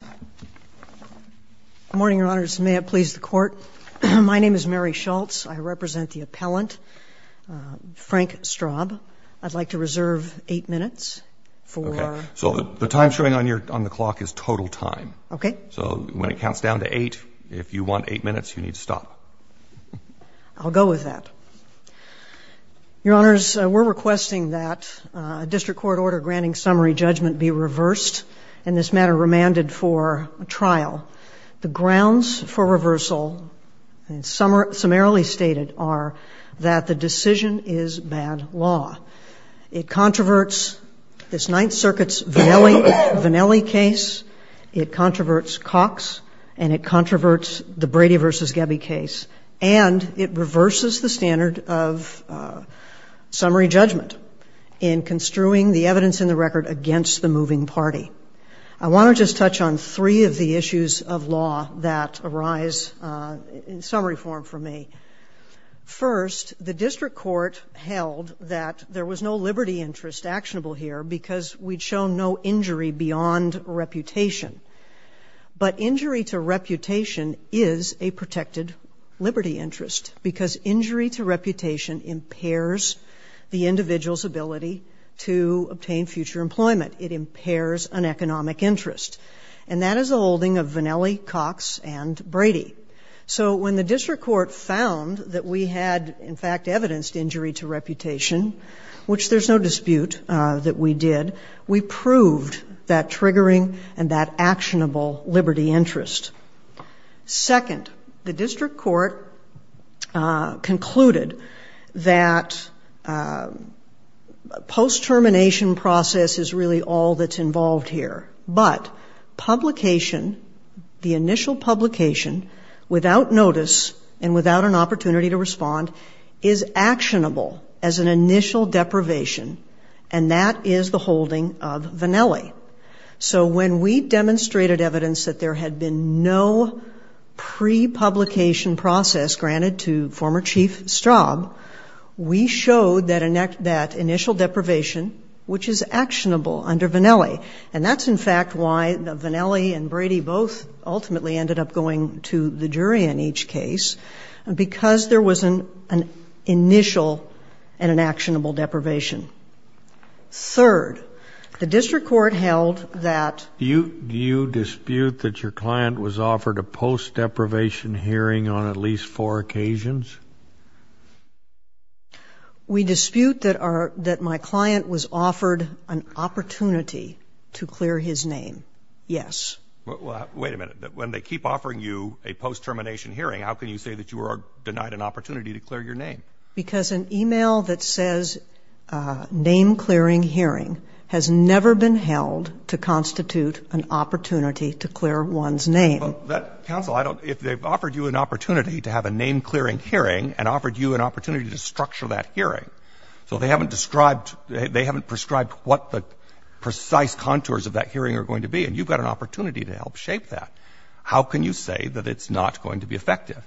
Good morning, Your Honors. May it please the Court. My name is Mary Schultz. I represent the appellant, Frank Straub. I'd like to reserve eight minutes for... Okay. So the time showing on the clock is total time. Okay. So when it counts down to eight, if you want eight minutes, you need to stop. I'll go with that. Your Honors, we're requesting that a district court order granting summary judgment be reversed, and this matter remanded for trial. The grounds for reversal, summarily stated, are that the decision is bad law. It controverts this Ninth Circuit's Vannelli case, it controverts Cox, and it controverts the Brady v. Gebbe case, and it reverses the standard of summary judgment in construing the evidence in the record against the moving party. I want to just touch on three of the issues of law that arise in summary form for me. First, the district court held that there was no liberty interest actionable here because we'd shown no injury beyond reputation. But injury to reputation is a protected liberty interest because injury to reputation impairs the individual's ability to obtain future employment. It impairs an economic interest. And that is the holding of Vannelli, Cox, and Brady. So when the district court found that we had, in fact, evidenced injury to reputation, we proved that triggering and that actionable liberty interest. Second, the district court concluded that post-termination process is really all that's involved here. But publication, the initial publication, without notice and without an understanding of Vannelli. So when we demonstrated evidence that there had been no pre-publication process granted to former Chief Straub, we showed that initial deprivation, which is actionable under Vannelli. And that's, in fact, why the Vannelli and Brady both ultimately ended up going to the jury in each case, because there was an initial and an actionable deprivation. Third, the district court held that — Do you dispute that your client was offered a post-deprivation hearing on at least four occasions? We dispute that our — that my client was offered an opportunity to clear his name, yes. Well, wait a minute. When they keep offering you a post-termination hearing, how can you say that you are denied an opportunity to clear your name? Because an e-mail that says name-clearing hearing has never been held to constitute an opportunity to clear one's name. Well, that — counsel, I don't — if they've offered you an opportunity to have a name-clearing hearing and offered you an opportunity to structure that hearing, so they haven't described — they haven't prescribed what the precise contours of that hearing are going to be, and you've got an opportunity to help shape that, how can you say that it's not going to be effective?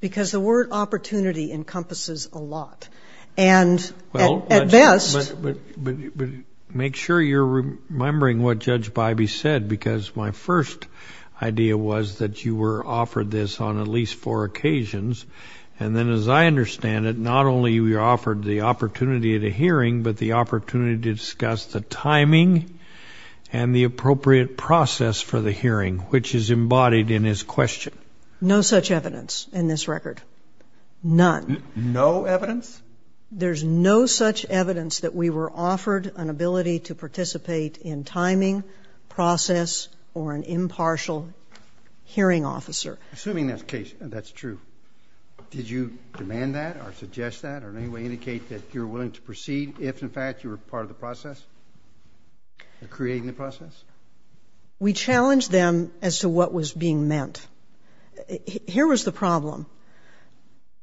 Because the word opportunity encompasses a lot, and at best — Well, but make sure you're remembering what Judge Bybee said, because my first idea was that you were offered this on at least four occasions, and then as I understand it, not only were you offered the opportunity at a hearing, but the opportunity to discuss the timing and the appropriate process for the hearing, which is embodied in his question. No such evidence in this record. None. No evidence? There's no such evidence that we were offered an ability to participate in timing, process, or an impartial hearing officer. Assuming that's the case, that's true, did you demand that or suggest that or in any way indicate that you were willing to proceed if, in fact, you were part of the process, creating the process? We challenged them as to what was being meant. Here was the problem.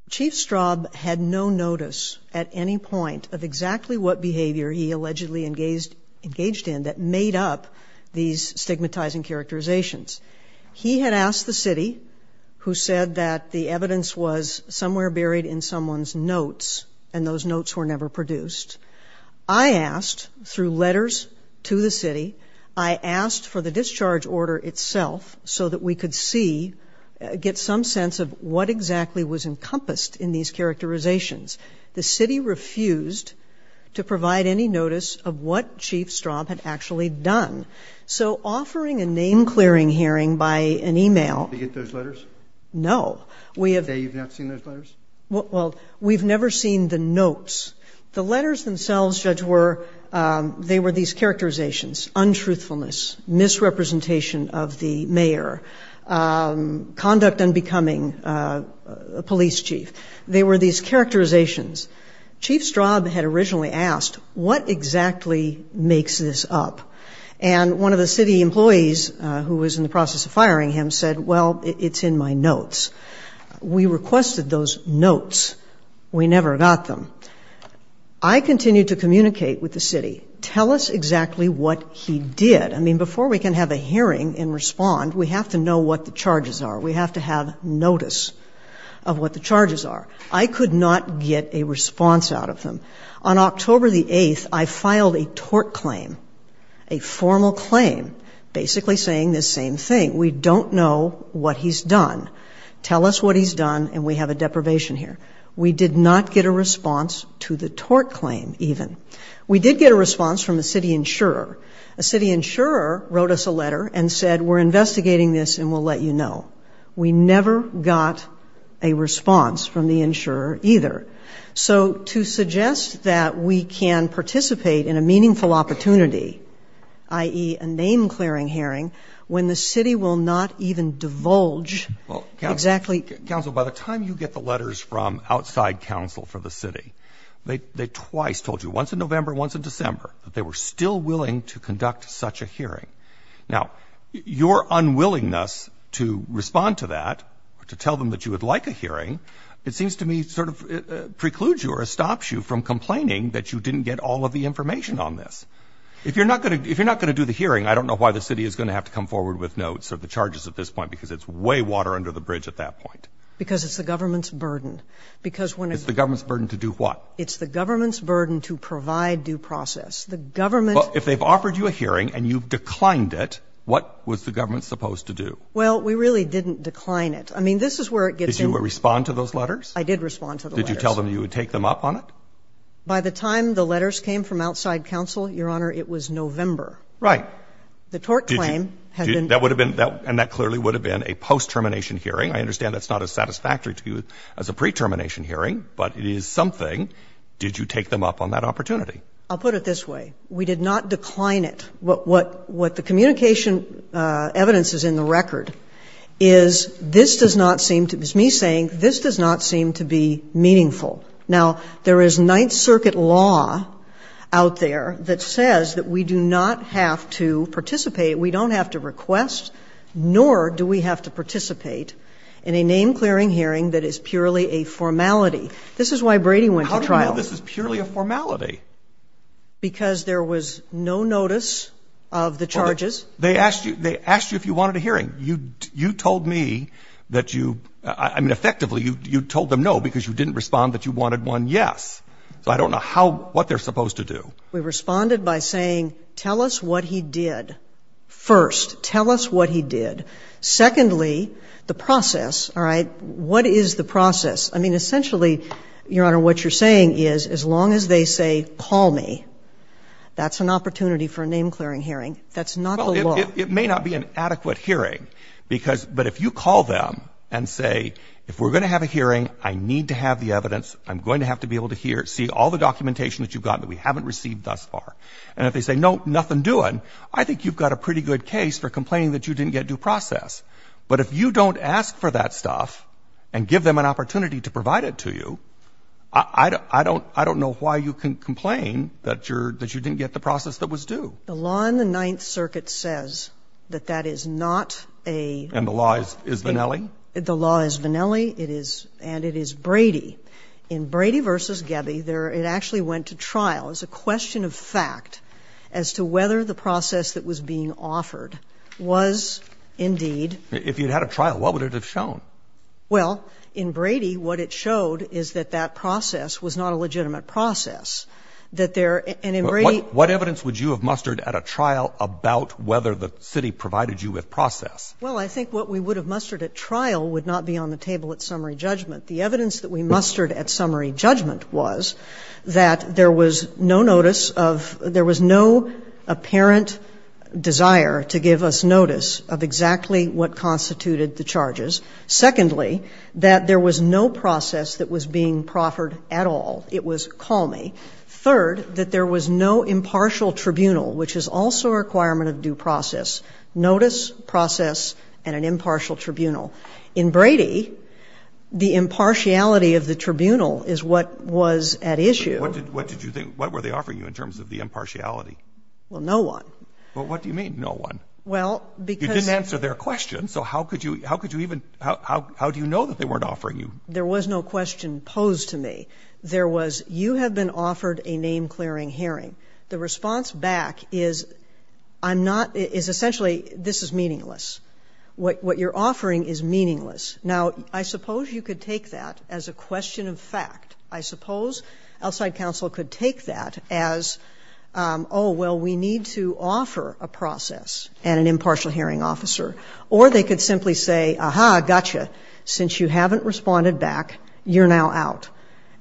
Chief Straub had no notice at any point of exactly what behavior he allegedly engaged in that made up these stigmatizing characterizations. He had asked the city, who said that the evidence was somewhere buried in someone's notes, and those notes were never produced. I asked, through letters to the city, I asked for the discharge order itself so that we could see, get some sense of what exactly was encompassed in these characterizations. The city refused to provide any notice of what Chief Straub had actually done. So offering a name-clearing hearing by an e-mail... Did they get those letters? No. Did they say you've not seen those letters? Well, we've never seen the notes. The letters themselves, Judge, were, they were these characterizations, untruthfulness, misrepresentation of the mayor, conduct unbecoming, police chief. They were these characterizations. Chief Straub had originally asked, what exactly makes this up? And one of the city employees who was in the process of firing him said, well, it's in my notes. We requested those notes. We never got them. I continued to communicate with the city. Tell us exactly what he did. I mean, before we can have a hearing and respond, we have to know what the charges are. We have to have notice of what the charges are. I could not get a response out of them. On October the 8th, I filed a tort claim, a formal claim, basically saying the same thing. We don't know what he's done. Tell us what he's done, and we have a deprivation here. We did not get a response to the tort claim, even. We did get a response from a city insurer. A city insurer wrote us a letter and said, we're investigating this, and we'll let you know. We never got a response from the insurer, either. So to suggest that we can participate in a meaningful opportunity, i.e., a name-clearing hearing, when the city will not even divulge exactly— Well, counsel, by the time you get the letters from outside counsel for the city, they twice told you, once in November, once in December, that they were still willing to conduct such a hearing. Now, your unwillingness to respond to that, to tell them that you would like a hearing, it seems to me sort of precludes you or stops you from complaining that you didn't get all of the information on this. If you're not going to do the hearing, I don't know why the city is going to have to come forward with notes or the charges at this point, because it's way water under the bridge at that point. Because it's the government's burden. Because when— It's the government's burden to do what? It's the government's burden to provide due process. The government— Well, if they've offered you a hearing and you've declined it, what was the government supposed to do? Well, we really didn't decline it. I mean, this is where it gets in— Did you respond to those letters? I did respond to the letters. Did you tell them you would take them up on it? By the time the letters came from outside counsel, Your Honor, it was November. Right. The tort claim had been— That would have been, and that clearly would have been, a post-termination hearing. I understand that's not as satisfactory to you as a pre-termination hearing, but it is something. Did you take them up on that opportunity? I'll put it this way. We did not decline it. What the communication evidence is in the record is this does not seem to, it's me saying, this does not seem to be meaningful. Now, there is Ninth Circuit law out there that says that we do not have to participate, we don't have to request, nor do we have to participate in a name-clearing hearing that is purely a formality. This is why Brady went to trial. How do you know this is purely a formality? Because there was no notice of the charges. They asked you if you wanted a hearing. You told me that you, I mean, effectively, you told them no because you didn't respond that you wanted one, yes. So I don't know how, what they're supposed to do. We responded by saying, tell us what he did, first. Tell us what he did. Secondly, the process, all right? What is the process? I mean, essentially, Your Honor, what you're saying is as long as they say, call me, that's an opportunity for a name-clearing hearing. That's not the law. Well, it may not be an adequate hearing because, but if you call them and say, if we're going to have a hearing, I need to have the evidence. I'm going to have to be able to hear, see all the documentation that you've gotten that we haven't received thus far, and if they say, no, nothing doing, I think you've got a pretty good case for complaining that you didn't get due process. But if you don't ask for that stuff and give them an opportunity to provide it to you, I don't know why you can complain that you didn't get the process that was due. The law in the Ninth Circuit says that that is not a law. And the law is Vannelli? The law is Vannelli. It is and it is Brady. In Brady v. Gebbe, there, it actually went to trial as a question of fact as to whether the process that was being offered was indeed. If you had a trial, what would it have shown? Well, in Brady, what it showed is that that process was not a legitimate process, that there, and in Brady. What evidence would you have mustered at a trial about whether the city provided you with process? Well, I think what we would have mustered at trial would not be on the table at summary judgment. The evidence that we mustered at summary judgment was that there was no notice of, there was no apparent desire to give us notice of exactly what constituted the charges. Secondly, that there was no process that was being proffered at all. It was call me. Third, that there was no impartial tribunal, which is also a requirement of due process. Notice, process, and an impartial tribunal. In Brady, the impartiality of the tribunal is what was at issue. What did, what did you think? What were they offering you in terms of the impartiality? Well, no one. Well, what do you mean, no one? Well, because. You didn't answer their question, so how could you, how could you even, how, how, how do you know that they weren't offering you? There was no question posed to me. There was, you have been offered a name clearing hearing. The response back is, I'm not, is essentially, this is meaningless. What, what you're offering is meaningless. Now, I suppose you could take that as a question of fact. I suppose outside counsel could take that as, oh, well, we need to offer a process and an impartial hearing officer. Or they could simply say, aha, gotcha. Since you haven't responded back, you're now out.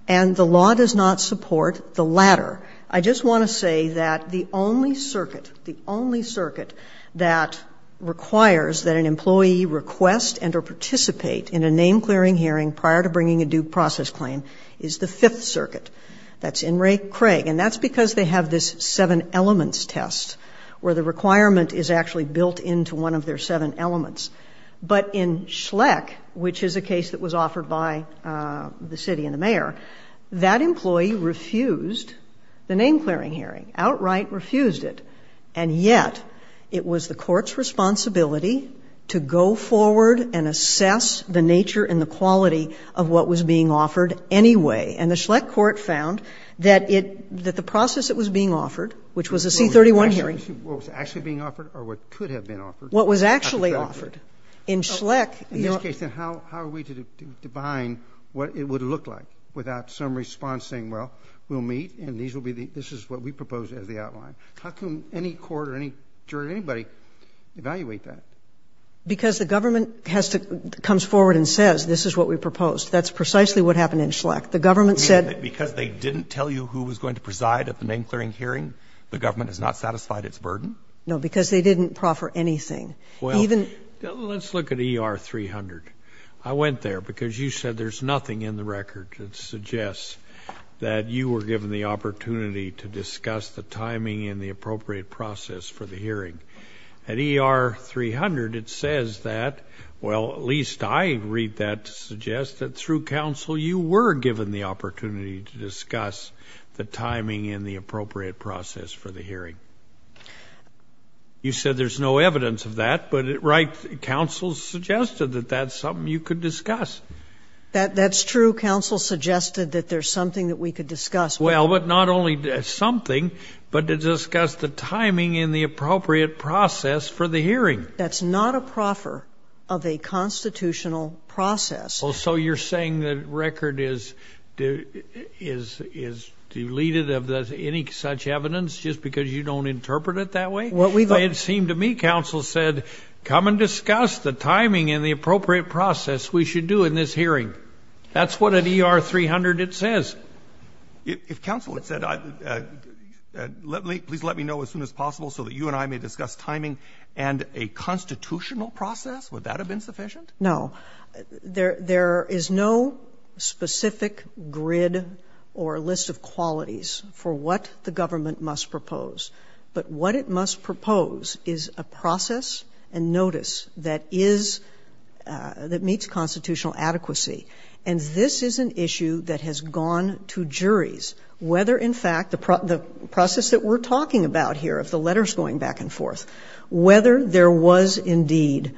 And the law does not support the latter. I just want to say that the only circuit, the only circuit that requires that an employee request and or participate in a name clearing hearing prior to bringing a due process claim is the fifth circuit. That's in Ray Craig. And that's because they have this seven elements test, where the requirement is actually built into one of their seven elements. But in Schleck, which is a case that was offered by the city and the mayor, that employee refused the name clearing hearing, outright refused it. And yet, it was the court's responsibility to go forward and assess the nature and the quality of what was being offered anyway. And the Schleck court found that it, that the process that was being offered, which was a C-31 hearing. What was actually being offered, or what could have been offered? What was actually offered. In Schleck. In this case, then how are we to define what it would look like? Without some response saying, well, we'll meet and these will be the, this is what we propose as the outline. How can any court or any jury, anybody, evaluate that? Because the government has to, comes forward and says, this is what we proposed. That's precisely what happened in Schleck. The government said- Because they didn't tell you who was going to preside at the name clearing hearing? The government has not satisfied its burden? No, because they didn't proffer anything. Even- Well, let's look at ER 300. I went there because you said there's nothing in the record that suggests that you were given the opportunity to discuss the timing and the appropriate process for the hearing. At ER 300, it says that, well, at least I read that to suggest that through council you were given the opportunity to discuss the timing and the appropriate process for the hearing. You said there's no evidence of that, but right, council suggested that that's something you could discuss. That's true, council suggested that there's something that we could discuss. Well, but not only something, but to discuss the timing and the appropriate process for the hearing. That's not a proffer of a constitutional process. So you're saying that record is deleted of any such evidence just because you don't interpret it that way? What we've- It seemed to me, council said, come and discuss the timing and the appropriate process we should do in this hearing. That's what at ER 300 it says. If council had said, please let me know as soon as possible so that you and I may discuss timing and a constitutional process, would that have been sufficient? No, there is no specific grid or list of qualities for what the government must propose. But what it must propose is a process and notice that meets constitutional adequacy. And this is an issue that has gone to juries, whether in fact, the process that we're talking about here, if the letter's going back and forth, whether there was indeed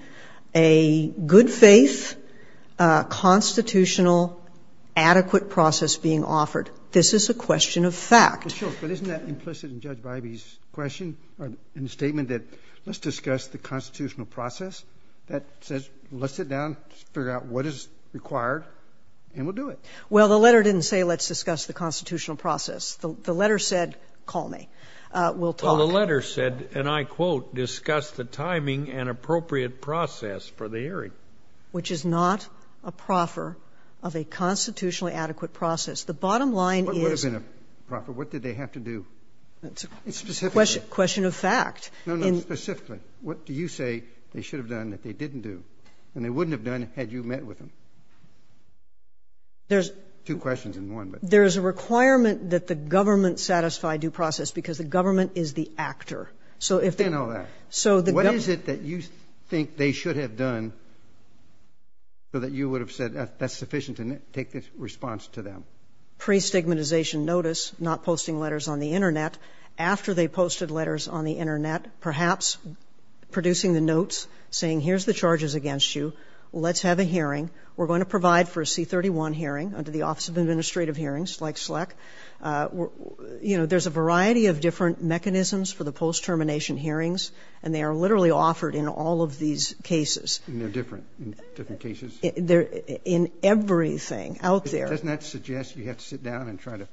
a good faith constitutional adequate process being offered. This is a question of fact. But isn't that implicit in Judge Bivey's question or in the statement that let's discuss the constitutional process? That says, let's sit down, figure out what is required, and we'll do it. Well, the letter didn't say, let's discuss the constitutional process. The letter said, call me, we'll talk. Well, the letter said, and I quote, discuss the timing and appropriate process for the hearing. Which is not a proffer of a constitutionally adequate process. The bottom line is- What would have been a proffer? What did they have to do? It's a question of fact. No, no, specifically. What do you say they should have done that they didn't do? And they wouldn't have done it had you met with them. There's- Two questions in one, but- There's a requirement that the government satisfy due process, because the government is the actor. So if- They know that. So the- What is it that you think they should have done so that you would have said that's sufficient to take this response to them? Pre-stigmatization notice, not posting letters on the Internet. After they posted letters on the Internet, perhaps producing the notes, saying here's the charges against you, let's have a hearing. We're going to provide for a C31 hearing under the Office of Administrative Hearings, like SLEC, you know, there's a variety of different mechanisms for the post-termination hearings, and they are literally offered in all of these cases. And they're different, in different cases? They're, in everything out there. Doesn't that suggest you have to sit down and try to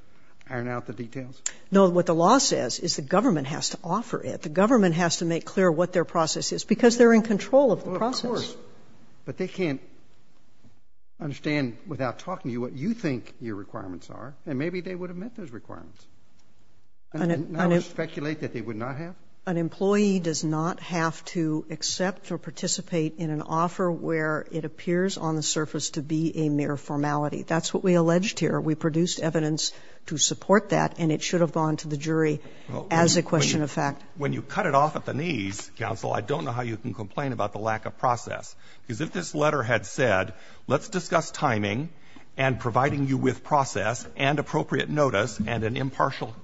iron out the details? No, what the law says is the government has to offer it. The government has to make clear what their process is, because they're in control of the process. Well, of course. But they can't understand without talking to you what you think your requirements are, and maybe they would have met those requirements. And I would speculate that they would not have? An employee does not have to accept or participate in an offer where it appears on the surface to be a mere formality. That's what we alleged here. We produced evidence to support that, and it should have gone to the jury as a question of fact. When you cut it off at the knees, counsel, I don't know how you can complain about the lack of process. Because if this letter had said, let's discuss timing and providing you with process and appropriate notice and an impartial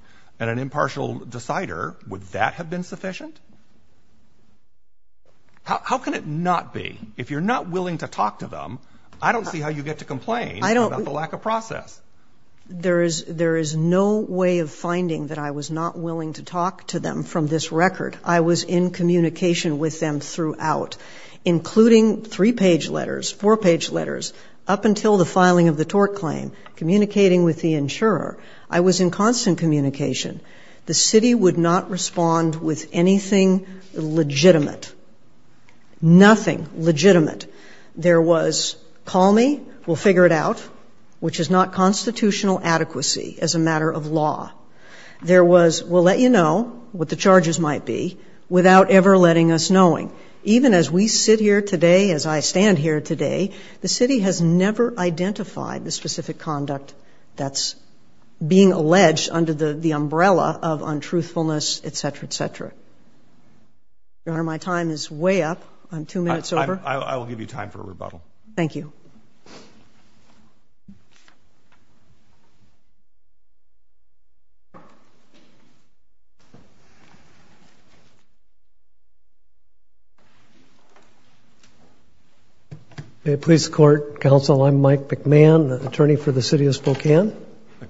decider, would that have been sufficient? How can it not be? If you're not willing to talk to them, I don't see how you get to complain. There is no way of finding that I was not willing to talk to them from this record. I was in communication with them throughout, including three-page letters, four-page letters, up until the filing of the tort claim, communicating with the insurer. I was in constant communication. The city would not respond with anything legitimate. Nothing legitimate. There was, call me, we'll figure it out, which is not constitutional adequacy as a matter of law. There was, we'll let you know what the charges might be without ever letting us knowing. Even as we sit here today, as I stand here today, the city has never identified the specific conduct that's being alleged under the umbrella of untruthfulness, et cetera, et cetera. Your Honor, my time is way up. I'm two minutes over. I will give you time for a rebuttal. Thank you. Police court, counsel, I'm Mike McMahon, the attorney for the city of Spokane.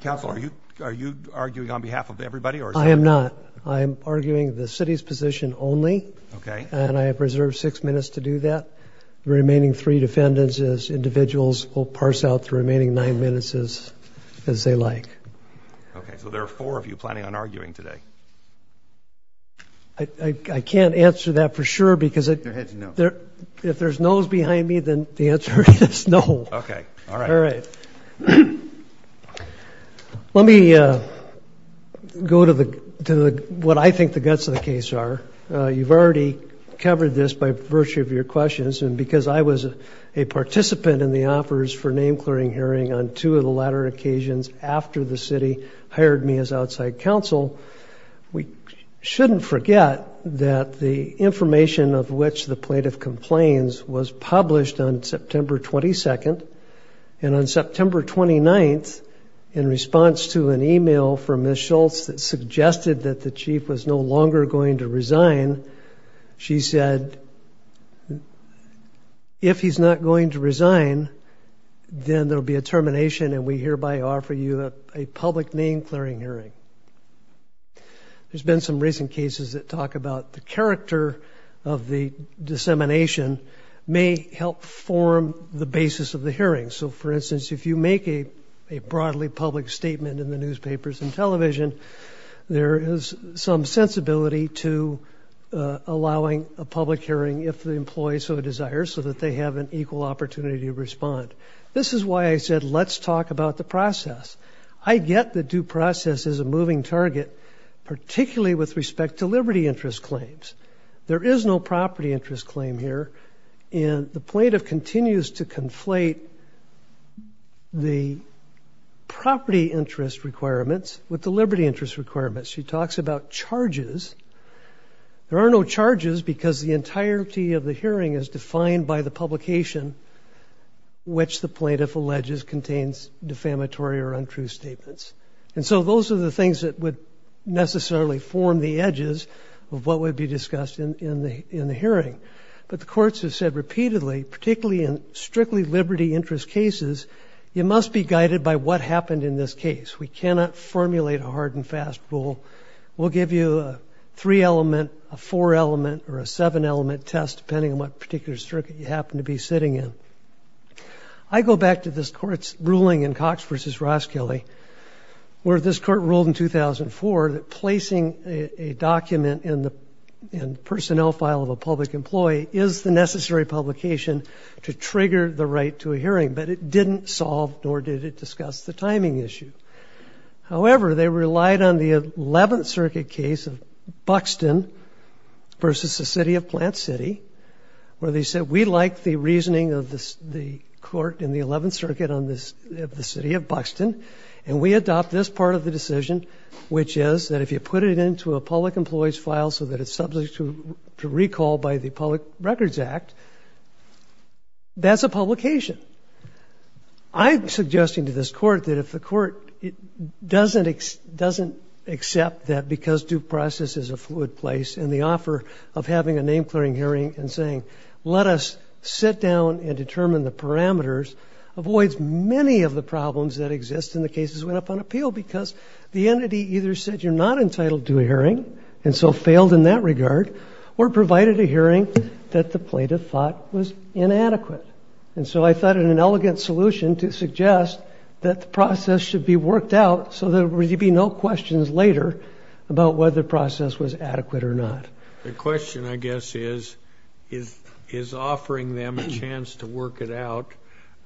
Counsel, are you arguing on behalf of everybody? I am not. I am arguing the city's position only. Okay. And I have reserved six minutes to do that. The remaining three defendants as individuals will parse out the remaining nine minutes as they like. Okay. So there are four of you planning on arguing today. I can't answer that for sure, because if there's no's behind me, then the answer is no. Okay. All right. All right. Let me go to what I think the guts of the case are. You've already covered this by virtue of your questions. And because I was a participant in the offers for name clearing hearing on two of the latter occasions after the city hired me as outside counsel, we shouldn't forget that the information of which the plaintiff complains was published on September 22nd. And on September 29th, in response to an email from Ms. Huffman, who suggested that the chief was no longer going to resign, she said, if he's not going to resign, then there'll be a termination and we hereby offer you a public name clearing hearing. There's been some recent cases that talk about the character of the dissemination may help form the basis of the hearing. So for instance, if you make a broadly public statement in the newspapers and television, there is some sensibility to allowing a public hearing if the employee so desires, so that they have an equal opportunity to respond. This is why I said, let's talk about the process. I get the due process is a moving target, particularly with respect to liberty interest claims. There is no property interest claim here. And the plaintiff continues to conflate the property interest requirements with the liberty interest requirements. She talks about charges. There are no charges because the entirety of the hearing is defined by the publication, which the plaintiff alleges contains defamatory or untrue statements. And so those are the things that would necessarily form the edges of what would be discussed in the hearing. But the courts have said repeatedly, particularly in strictly liberty interest cases, you must be guided by what happened in this case. We cannot formulate a hard and fast rule. We'll give you a three element, a four element, or a seven element test, depending on what particular circuit you happen to be sitting in. I go back to this court's ruling in Cox v. Roskilly, where this court ruled in 2004 that placing a document in the personnel file of a public employee is the necessary publication to trigger the right to a hearing. But it didn't solve, nor did it discuss, the timing issue. However, they relied on the 11th Circuit case of Buxton versus the city of Plant City, where they said, we like the reasoning of the court in the 11th Circuit of the city of Buxton. And we adopt this part of the decision, which is that if you put it into a public employee's file so that it's subject to recall by the Public Records Act, that's a publication. I'm suggesting to this court that if the court doesn't accept that because due process is a fluid place, and the offer of having a name clearing hearing and saying, let us sit down and determine the parameters, avoids many of the problems that exist in the cases that went up on appeal. Because the entity either said, you're not entitled to a hearing, and so failed in that regard, or provided a hearing that the plaintiff thought was inadequate. And so I thought of an elegant solution to suggest that the process should be worked out so there would be no questions later about whether the process was adequate or not. The question, I guess, is, is offering them a chance to work it out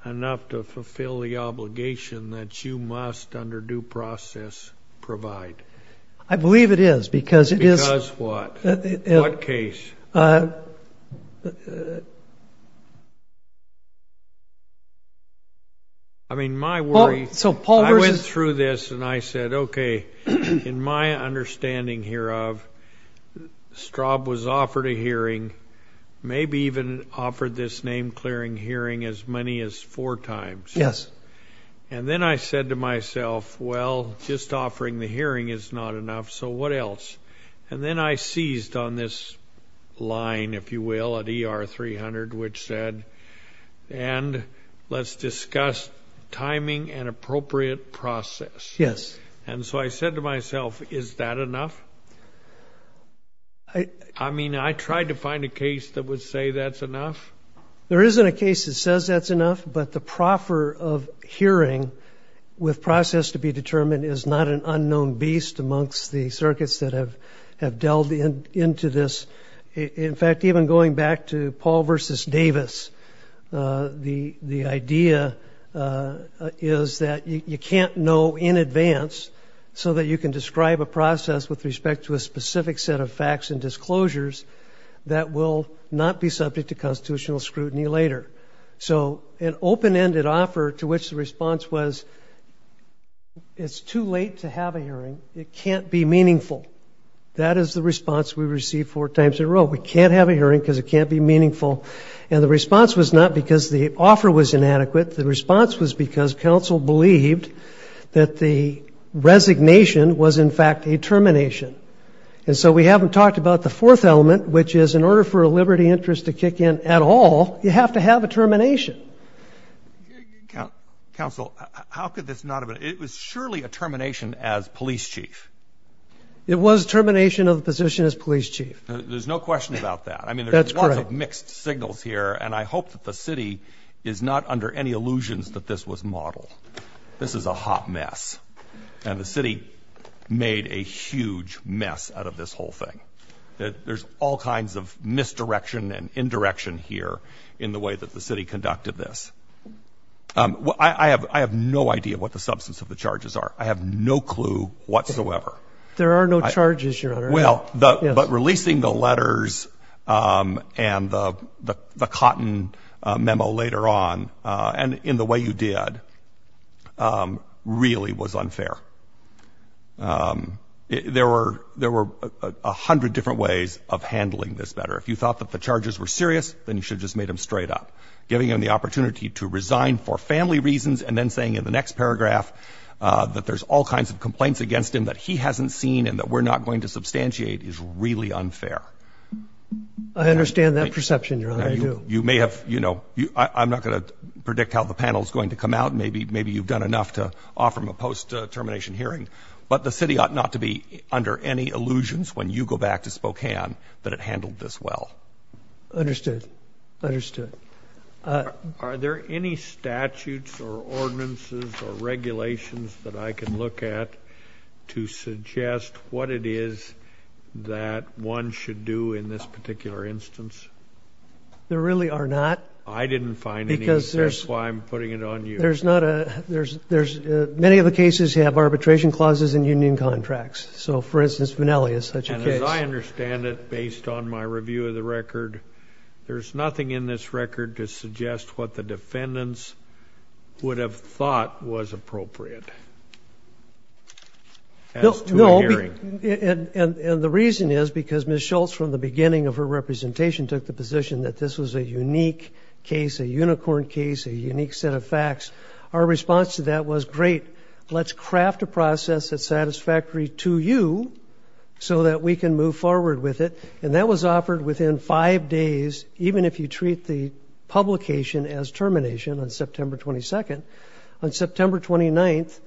enough to fulfill the obligation that you must, under due process, provide? I believe it is, because it is. Because what? What case? I mean, my worry, I went through this and I said, okay, in my understanding here of, Straub was offered a hearing, maybe even offered this name clearing hearing as many as four times. And then I said to myself, well, just offering the hearing is not enough, so what else? And then I seized on this line, if you will, at ER 300, which said, and let's discuss timing and appropriate process. Yes. And so I said to myself, is that enough? I mean, I tried to find a case that would say that's enough. There isn't a case that says that's enough, but the proffer of hearing with process to be determined is not an unknown beast amongst the circuits that have delved into this. In fact, even going back to Paul versus Davis, the idea is that you can't know in advance so that you can describe a process with respect to a specific set of facts and disclosures that will not be subject to constitutional scrutiny later. So an open-ended offer to which the response was, it's too late to have a hearing because it can't be meaningful. That is the response we received four times in a row. We can't have a hearing because it can't be meaningful. And the response was not because the offer was inadequate. The response was because counsel believed that the resignation was, in fact, a termination. And so we haven't talked about the fourth element, which is in order for a liberty interest to kick in at all, you have to have a termination. Counsel, how could this not have been? It was surely a termination as police chief. It was termination of the position as police chief. There's no question about that. I mean, there's lots of mixed signals here. And I hope that the city is not under any illusions that this was modeled. This is a hot mess. And the city made a huge mess out of this whole thing. There's all kinds of misdirection and indirection here in the way that the city handled this. I have no idea what the substance of the charges are. I have no clue whatsoever. There are no charges, Your Honor. Well, but releasing the letters and the cotton memo later on and in the way you did really was unfair. There were a hundred different ways of handling this matter. If you thought that the charges were serious, then you should have just made them straight up. Giving him the opportunity to resign for family reasons and then saying in the next paragraph that there's all kinds of complaints against him that he hasn't seen and that we're not going to substantiate is really unfair. I understand that perception, Your Honor, I do. You may have, you know, I'm not going to predict how the panel is going to come out. Maybe you've done enough to offer him a post-termination hearing. But the city ought not to be under any illusions when you go back to Spokane that it handled this well. Understood. Understood. Are there any statutes or ordinances or regulations that I can look at to suggest what it is that one should do in this particular instance? There really are not. I didn't find any. That's why I'm putting it on you. There's not a, there's, there's many of the cases have arbitration clauses and union contracts. So for instance, Vanelli is such a case. As I understand it, based on my review of the record, there's nothing in this record to suggest what the defendants would have thought was appropriate. As to a hearing. And, and, and the reason is because Ms. Schultz, from the beginning of her representation, took the position that this was a unique case, a unicorn case, a unique set of facts. Our response to that was great. Let's craft a process that's satisfactory to you so that we can move forward with it. And that was offered within five days, even if you treat the publication as termination on September 22nd. On September 29th,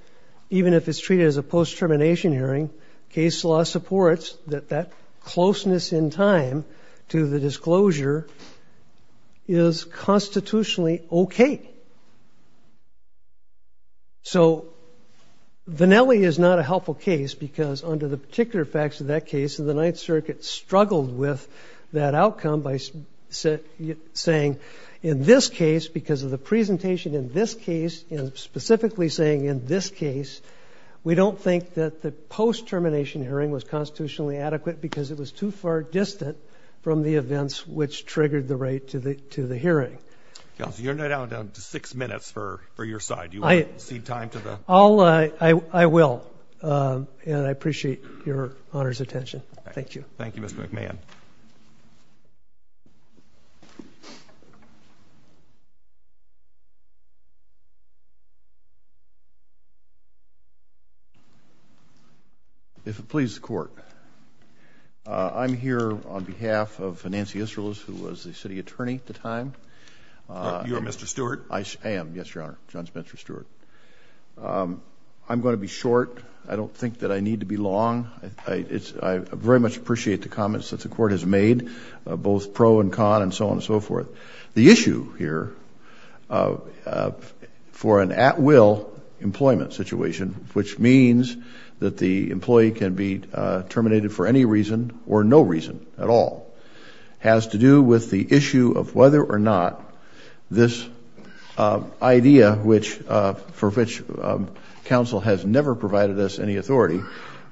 even if it's treated as a post-termination hearing, case law supports that that closeness in time to the disclosure is constitutionally okay. So, Vanelli is not a helpful case because under the particular facts of that case, the Ninth Circuit struggled with that outcome by saying, in this case, because of the presentation in this case, and specifically saying in this case, we don't think that the post-termination hearing was constitutionally adequate because it was too far distant from the events which triggered the right to the, to the hearing. So you're now down to six minutes for, for your side. Do you want to cede time to the- I'll, I, I will, and I appreciate your honor's attention. Thank you. Thank you, Mr. McMahon. If it please the court, I'm here on behalf of Nancy Israelis, who was the city attorney at the time. You are Mr. Stewart? I am, yes, your honor. John Spencer Stewart. I'm going to be short. I don't think that I need to be long. I, it's, I very much appreciate the comments that the court has made. Both pro and con and so on and so forth. The issue here for an at will employment situation, which means that the employee can be terminated for any reason or no reason at all, has to do with the issue of whether or not this idea which, for which council has never provided us any authority,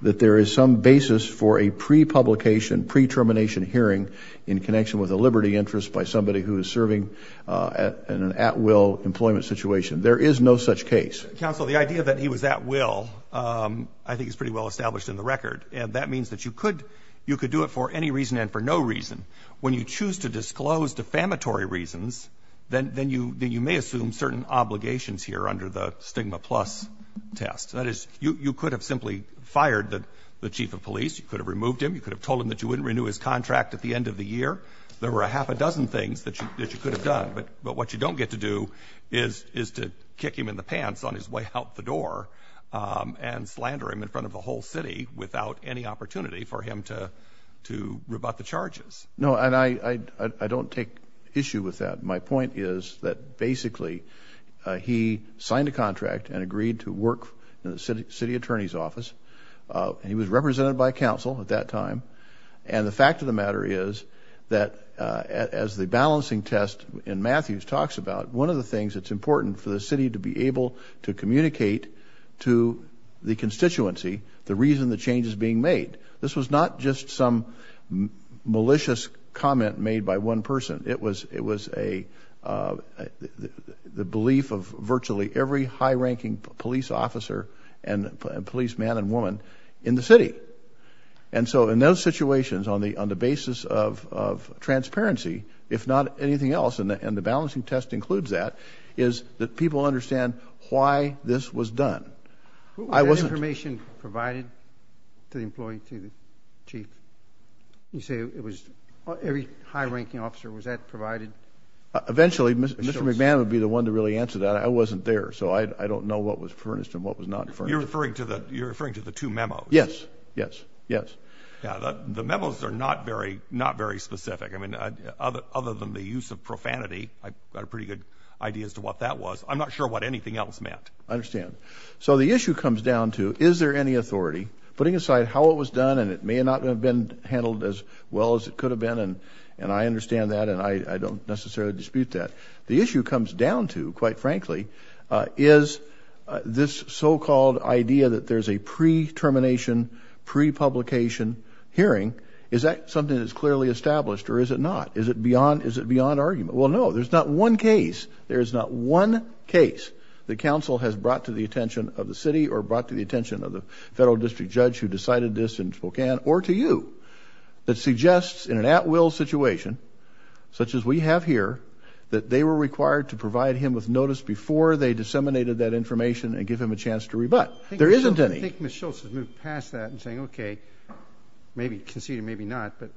that there is some basis for a pre-publication, pre-termination hearing in connection with a liberty interest by somebody who is serving in an at will employment situation. There is no such case. Counsel, the idea that he was at will I think is pretty well established in the record. And that means that you could, you could do it for any reason and for no reason. When you choose to disclose defamatory reasons, then you may assume certain obligations here under the stigma plus test. That is, you could have simply fired the chief of police. You could have removed him. You could have told him that you wouldn't renew his contract at the end of the year. There were a half a dozen things that you could have done. But what you don't get to do is to kick him in the pants on his way out the door and slander him in front of the whole city without any opportunity for him to rebut the charges. No, and I don't take issue with that. My point is that basically he signed a contract and agreed to work in the city attorney's office. And he was represented by council at that time. And the fact of the matter is that as the balancing test in Matthews talks about, one of the things that's important for the city to be able to communicate to the constituency the reason the change is being made. This was not just some malicious comment made by one person. It was the belief of virtually every high ranking police officer and police man and woman in the city. And so in those situations on the basis of transparency, if not anything else, and the balancing test includes that, is that people understand why this was done. I wasn't- Was that information provided to the employee, to the chief? You say it was, every high ranking officer, was that provided? Eventually, Mr. McMahon would be the one to really answer that. I wasn't there, so I don't know what was furnished and what was not furnished. You're referring to the two memos. Yes, yes, yes. Yeah, the memos are not very specific. I mean, other than the use of profanity, I've got a pretty good idea as to what that was. I'm not sure what anything else meant. I understand. So the issue comes down to, is there any authority? Putting aside how it was done, and it may not have been handled as well as it could have been, and I understand that, and I don't necessarily dispute that. The issue comes down to, quite frankly, is this so-called idea that there's a pre-termination, pre-publication hearing. Is that something that's clearly established, or is it not? Is it beyond argument? Well, no. There's not one case, there is not one case, that counsel has brought to the attention of the city or brought to the attention of the federal district judge who decided this in Spokane, or to you, that suggests in an at-will situation, such as we have here, that they were required to provide him with notice before they disseminated that information and give him a chance to rebut. There isn't any. I think Ms. Schultz has moved past that in saying, okay, maybe conceded, maybe not, but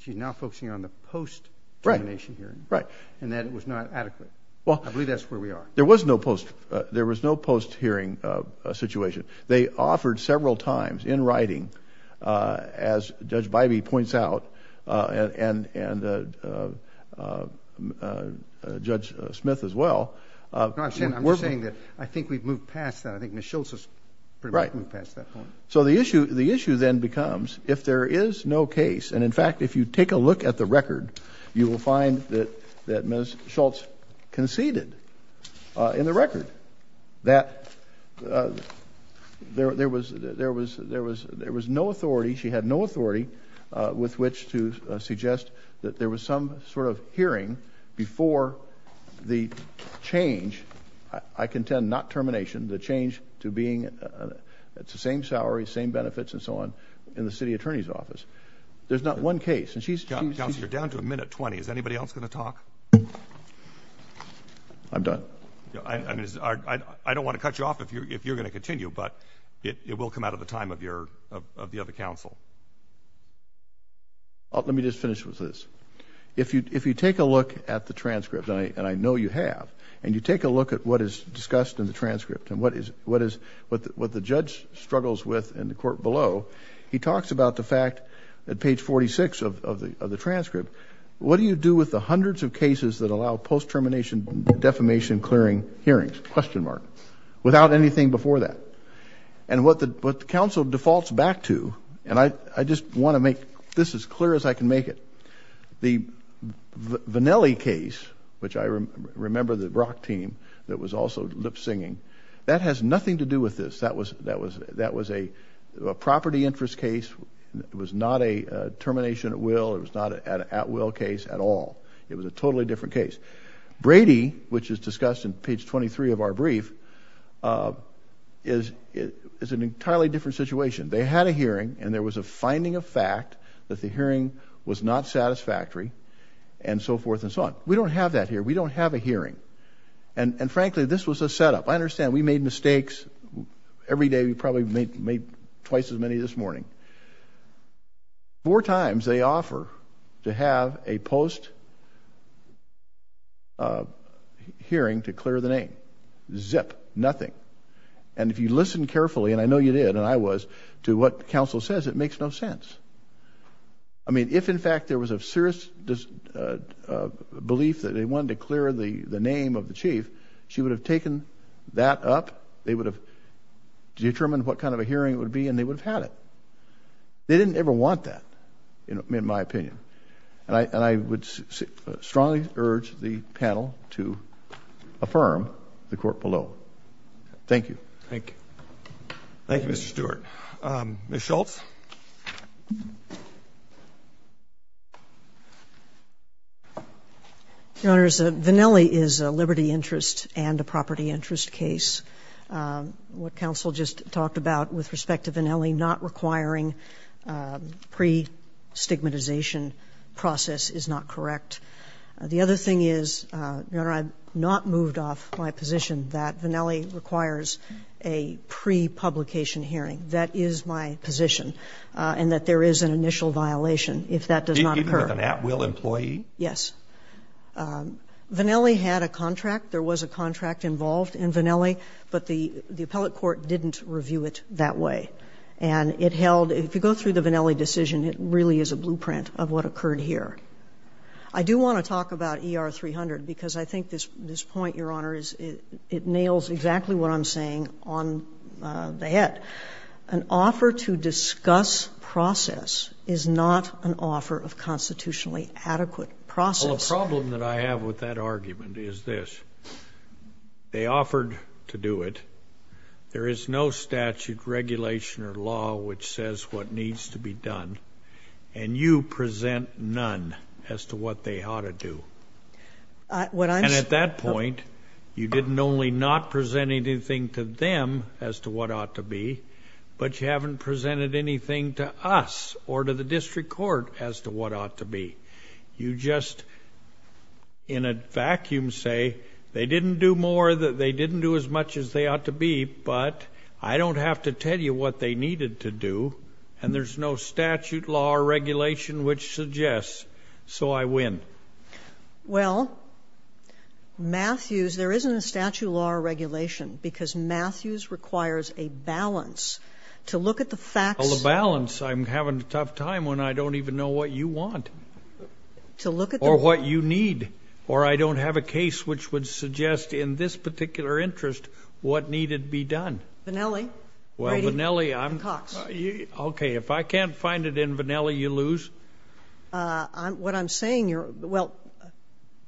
she's now focusing on the post-termination hearing, and that it was not adequate. I believe that's where we are. There was no post-hearing situation. They offered several times, in writing, as Judge Bybee points out, and Judge Smith as well. No, I'm just saying that I think we've moved past that. I think Ms. Schultz has pretty much moved past that point. So the issue then becomes, if there is no case, and in fact, if you take a look at the record, you will find that Ms. Schultz conceded in the record that there was no authority, she had no authority with which to suggest that there was some sort of hearing before the change, I contend not termination, the change to being, it's the same salary, same benefits, and so on, in the city attorney's office. There's not one case, and she's. Councilor, you're down to a minute 20. Is anybody else going to talk? I'm done. I don't want to cut you off if you're going to continue, but it will come out of the time of the other council. Let me just finish with this. If you take a look at the transcript, and I know you have, and you take a look at what is discussed in the transcript and what the judge struggles with in the court below, he talks about the fact that page 46 of the transcript, what do you do with the hundreds of cases that allow post-termination defamation clearing hearings, question mark, without anything before that? And what the council defaults back to, and I just want to make this as clear as I can make it, the Vanelli case, which I remember the Brock team that was also lip-singing, that has nothing to do with this. That was a property interest case. It was not a termination at will. It was not an at will case at all. It was a totally different case. Brady, which is discussed in page 23 of our brief, is an entirely different situation. They had a hearing, and there was a finding of fact that the hearing was not satisfactory, and so forth and so on. We don't have that here. We don't have a hearing. And frankly, this was a setup. I understand we made mistakes. Every day we probably made twice as many this morning. Four times they offer to have a post-hearing to clear the name. Zip. Nothing. And if you listen carefully, and I know you did, and I was, to what the council says, it makes no sense. I mean, if in fact there was a serious belief that they wanted to clear the name of the chief, she would have taken that up. They would have determined what kind of a hearing it would be, and they would have had it. They didn't ever want that, in my opinion. And I would strongly urge the panel to affirm the court below. Thank you. Thank you. Thank you, Mr. Stewart. Ms. Schultz? Your Honors, Vannelli is a liberty interest and a property interest case. What counsel just talked about with respect to Vannelli, not requiring pre-stigmatization process is not correct. The other thing is, Your Honor, I'm not moved off my position that Vannelli requires a pre-publication hearing. That is my position, and that there is an initial violation if that does not occur. Even with an at-will employee? Yes. Vannelli had a contract. There was a contract involved in Vannelli, but the appellate court didn't review it that way. And it held, if you go through the Vannelli decision, it really is a blueprint of what occurred here. I do want to talk about ER 300, because I think this point, Your Honors, it nails exactly what I'm saying on the head. An offer to discuss process is not an offer of constitutionally adequate process. Well, the problem that I have with that argument is this. They offered to do it. There is no statute, regulation, or law which says what needs to be done. And you present none as to what they ought to do. And at that point, you didn't only not present anything to them as to what ought to be, but you haven't presented anything to us or to the district court as to what ought to be. You just, in a vacuum, say they didn't do more, as much as they ought to be, but I don't have to tell you what they needed to do. And there's no statute, law, or regulation which suggests, so I win. Well, Matthews, there isn't a statute, law, or regulation, because Matthews requires a balance to look at the facts. Well, the balance, I'm having a tough time when I don't even know what you want. To look at the- Or what you need. Or I don't have a case which would suggest in this particular interest what needed to be done. Vannelli, Brady, and Cox. Okay, if I can't find it in Vannelli, you lose. What I'm saying, you're, well,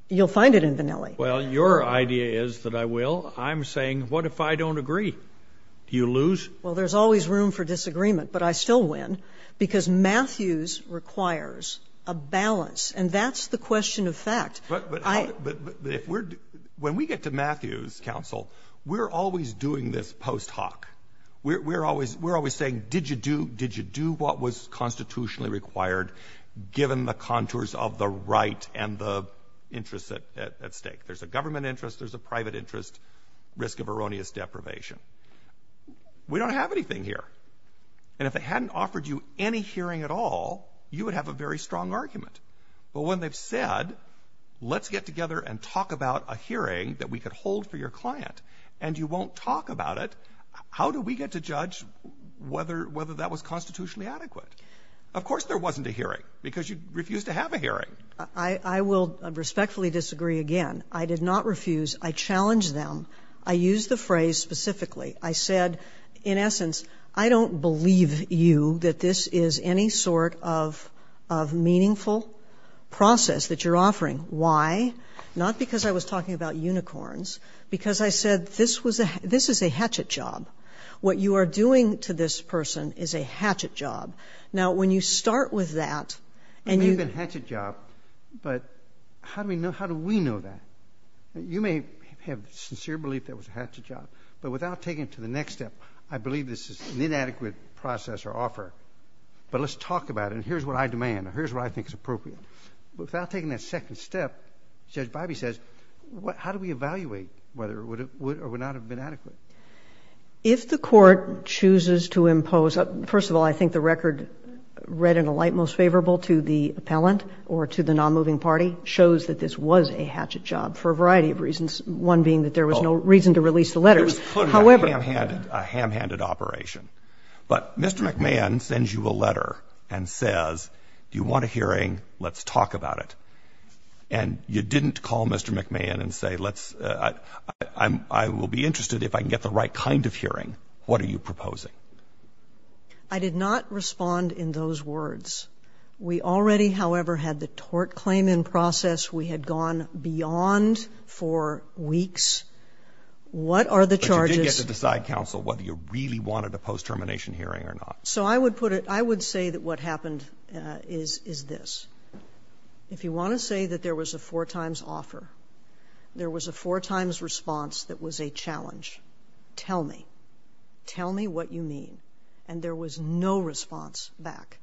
you'll find it in Vannelli. Well, your idea is that I will. I'm saying, what if I don't agree? Do you lose? Well, there's always room for disagreement, but I still win because Matthews requires a balance, and that's the question of fact. But when we get to Matthews' counsel, we're always doing this post hoc. We're always saying, did you do what was constitutionally required, given the contours of the right and the interests at stake? There's a government interest, there's a private interest, risk of erroneous deprivation. We don't have anything here. And if they hadn't offered you any hearing at all, you would have a very strong argument. But when they've said, let's get together and talk about a hearing that we could hold for your client, and you won't talk about it, how do we get to judge whether that was constitutionally adequate? Of course there wasn't a hearing, because you refused to have a hearing. I will respectfully disagree again. I did not refuse. I challenged them. I used the phrase specifically. I said, in essence, I don't believe you that this is any sort of meaningful process that you're offering. Why? Not because I was talking about unicorns. Because I said, this is a hatchet job. What you are doing to this person is a hatchet job. Now, when you start with that, and you- It may have been a hatchet job, but how do we know that? You may have sincere belief that it was a hatchet job, but without taking it to the next step, I believe this is an inadequate process or offer, but let's talk about it. Here's what I demand, or here's what I think is appropriate. Without taking that second step, Judge Biby says, how do we evaluate whether it would or would not have been adequate? If the Court chooses to impose- First of all, I think the record read in a light most favorable to the appellant or to the nonmoving party shows that this was a hatchet job for a variety of reasons, one being that there was no reason to release the letters. However- It was clearly a ham-handed operation. But Mr. McMahon sends you a letter and says, do you want a hearing? Let's talk about it. And you didn't call Mr. McMahon and say, I will be interested if I can get the right kind of hearing. What are you proposing? I did not respond in those words. We already, however, had the tort claim in process. We had gone beyond for weeks. What are the charges- So I would put it, I would say that what happened is this. If you want to say that there was a four times offer, there was a four times response that was a challenge, tell me. Tell me what you mean. And there was no response back.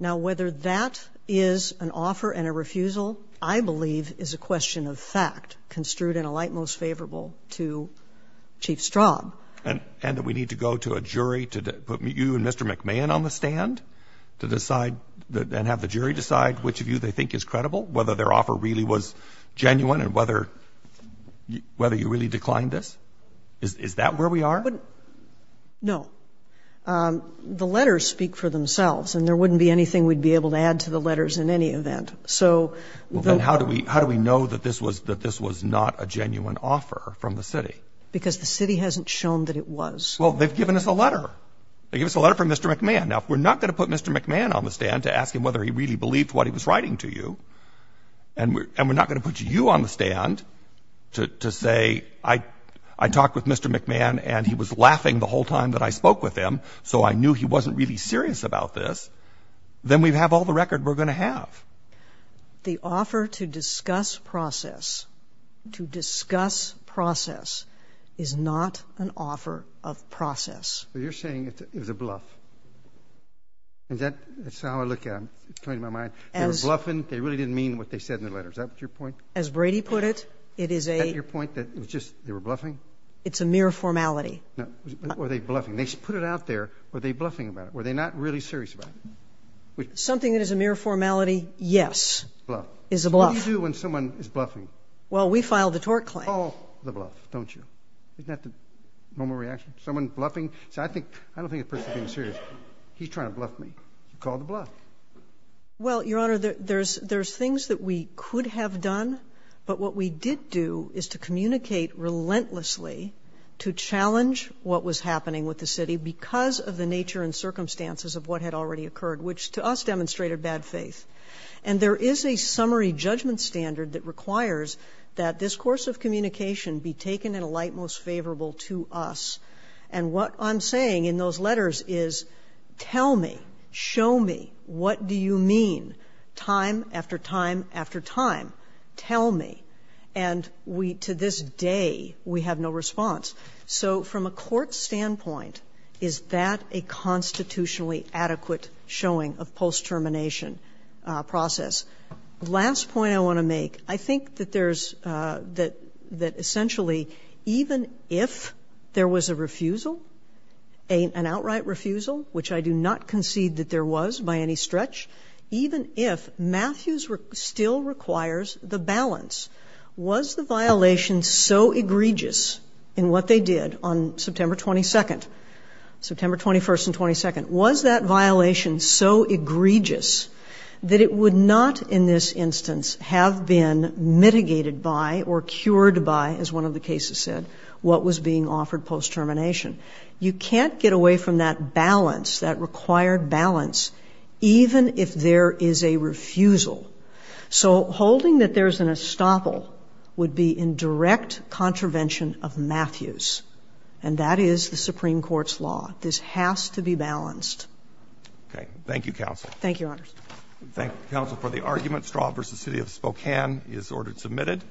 Now, whether that is an offer and a refusal, I believe is a question of fact construed in a light most favorable to Chief Straub. And that we need to go to a jury to put you and Mr. McMahon on the stand to decide and have the jury decide which of you they think is credible, whether their offer really was genuine and whether you really declined this? Is that where we are? No. The letters speak for themselves. And there wouldn't be anything we'd be able to add to the letters in any event. So- Then how do we know that this was not a genuine offer from the city? Because the city hasn't shown that it was. Well, they've given us a letter. They gave us a letter from Mr. McMahon. Now, if we're not going to put Mr. McMahon on the stand to ask him whether he really believed what he was writing to you, and we're not going to put you on the stand to say, I talked with Mr. McMahon and he was laughing the whole time that I spoke with him, so I knew he wasn't really serious about this, then we'd have all the record we're going to have. The offer to discuss process, to discuss process, is not an offer of process. But you're saying it was a bluff. And that's how I look at it, it's coming to my mind. They were bluffing. They really didn't mean what they said in the letter. Is that your point? As Brady put it, it is a- Is that your point, that it was just, they were bluffing? It's a mere formality. Now, were they bluffing? They put it out there. Were they bluffing about it? Were they not really serious about it? Something that is a mere formality, yes, is a bluff. What do you do when someone is bluffing? Well, we file the tort claim. Call the bluff, don't you? Isn't that the moment of reaction? Someone bluffing? See, I don't think the person's being serious. He's trying to bluff me. Call the bluff. Well, Your Honor, there's things that we could have done, but what we did do is to communicate relentlessly to challenge what was happening with the city because of the nature and circumstances of what had already occurred, which to us demonstrated bad faith. And there is a summary judgment standard that requires that this course of communication be taken in a light most favorable to us. And what I'm saying in those letters is, tell me, show me, what do you mean, time after time after time, tell me. And we, to this day, we have no response. So from a court standpoint, is that a constitutionally adequate showing of post-termination process? Last point I want to make, I think that essentially, even if there was a refusal, an outright refusal, which I do not concede that there was by any stretch, even if Matthews still requires the balance, was the violation so egregious in what they did on September 22nd, September 21st and 22nd, was that violation so egregious that it would not, in this instance, have been mitigated by or cured by, as one of the cases said, what was being offered post-termination. You can't get away from that balance, that required balance, even if there is a refusal. So holding that there's an estoppel would be in direct contravention of Matthews. And that is the Supreme Court's law. This has to be balanced. Okay, thank you, Counsel. Thank you, Your Honors. Thank you, Counsel, for the argument. Straub v. City of Spokane is ordered submitted.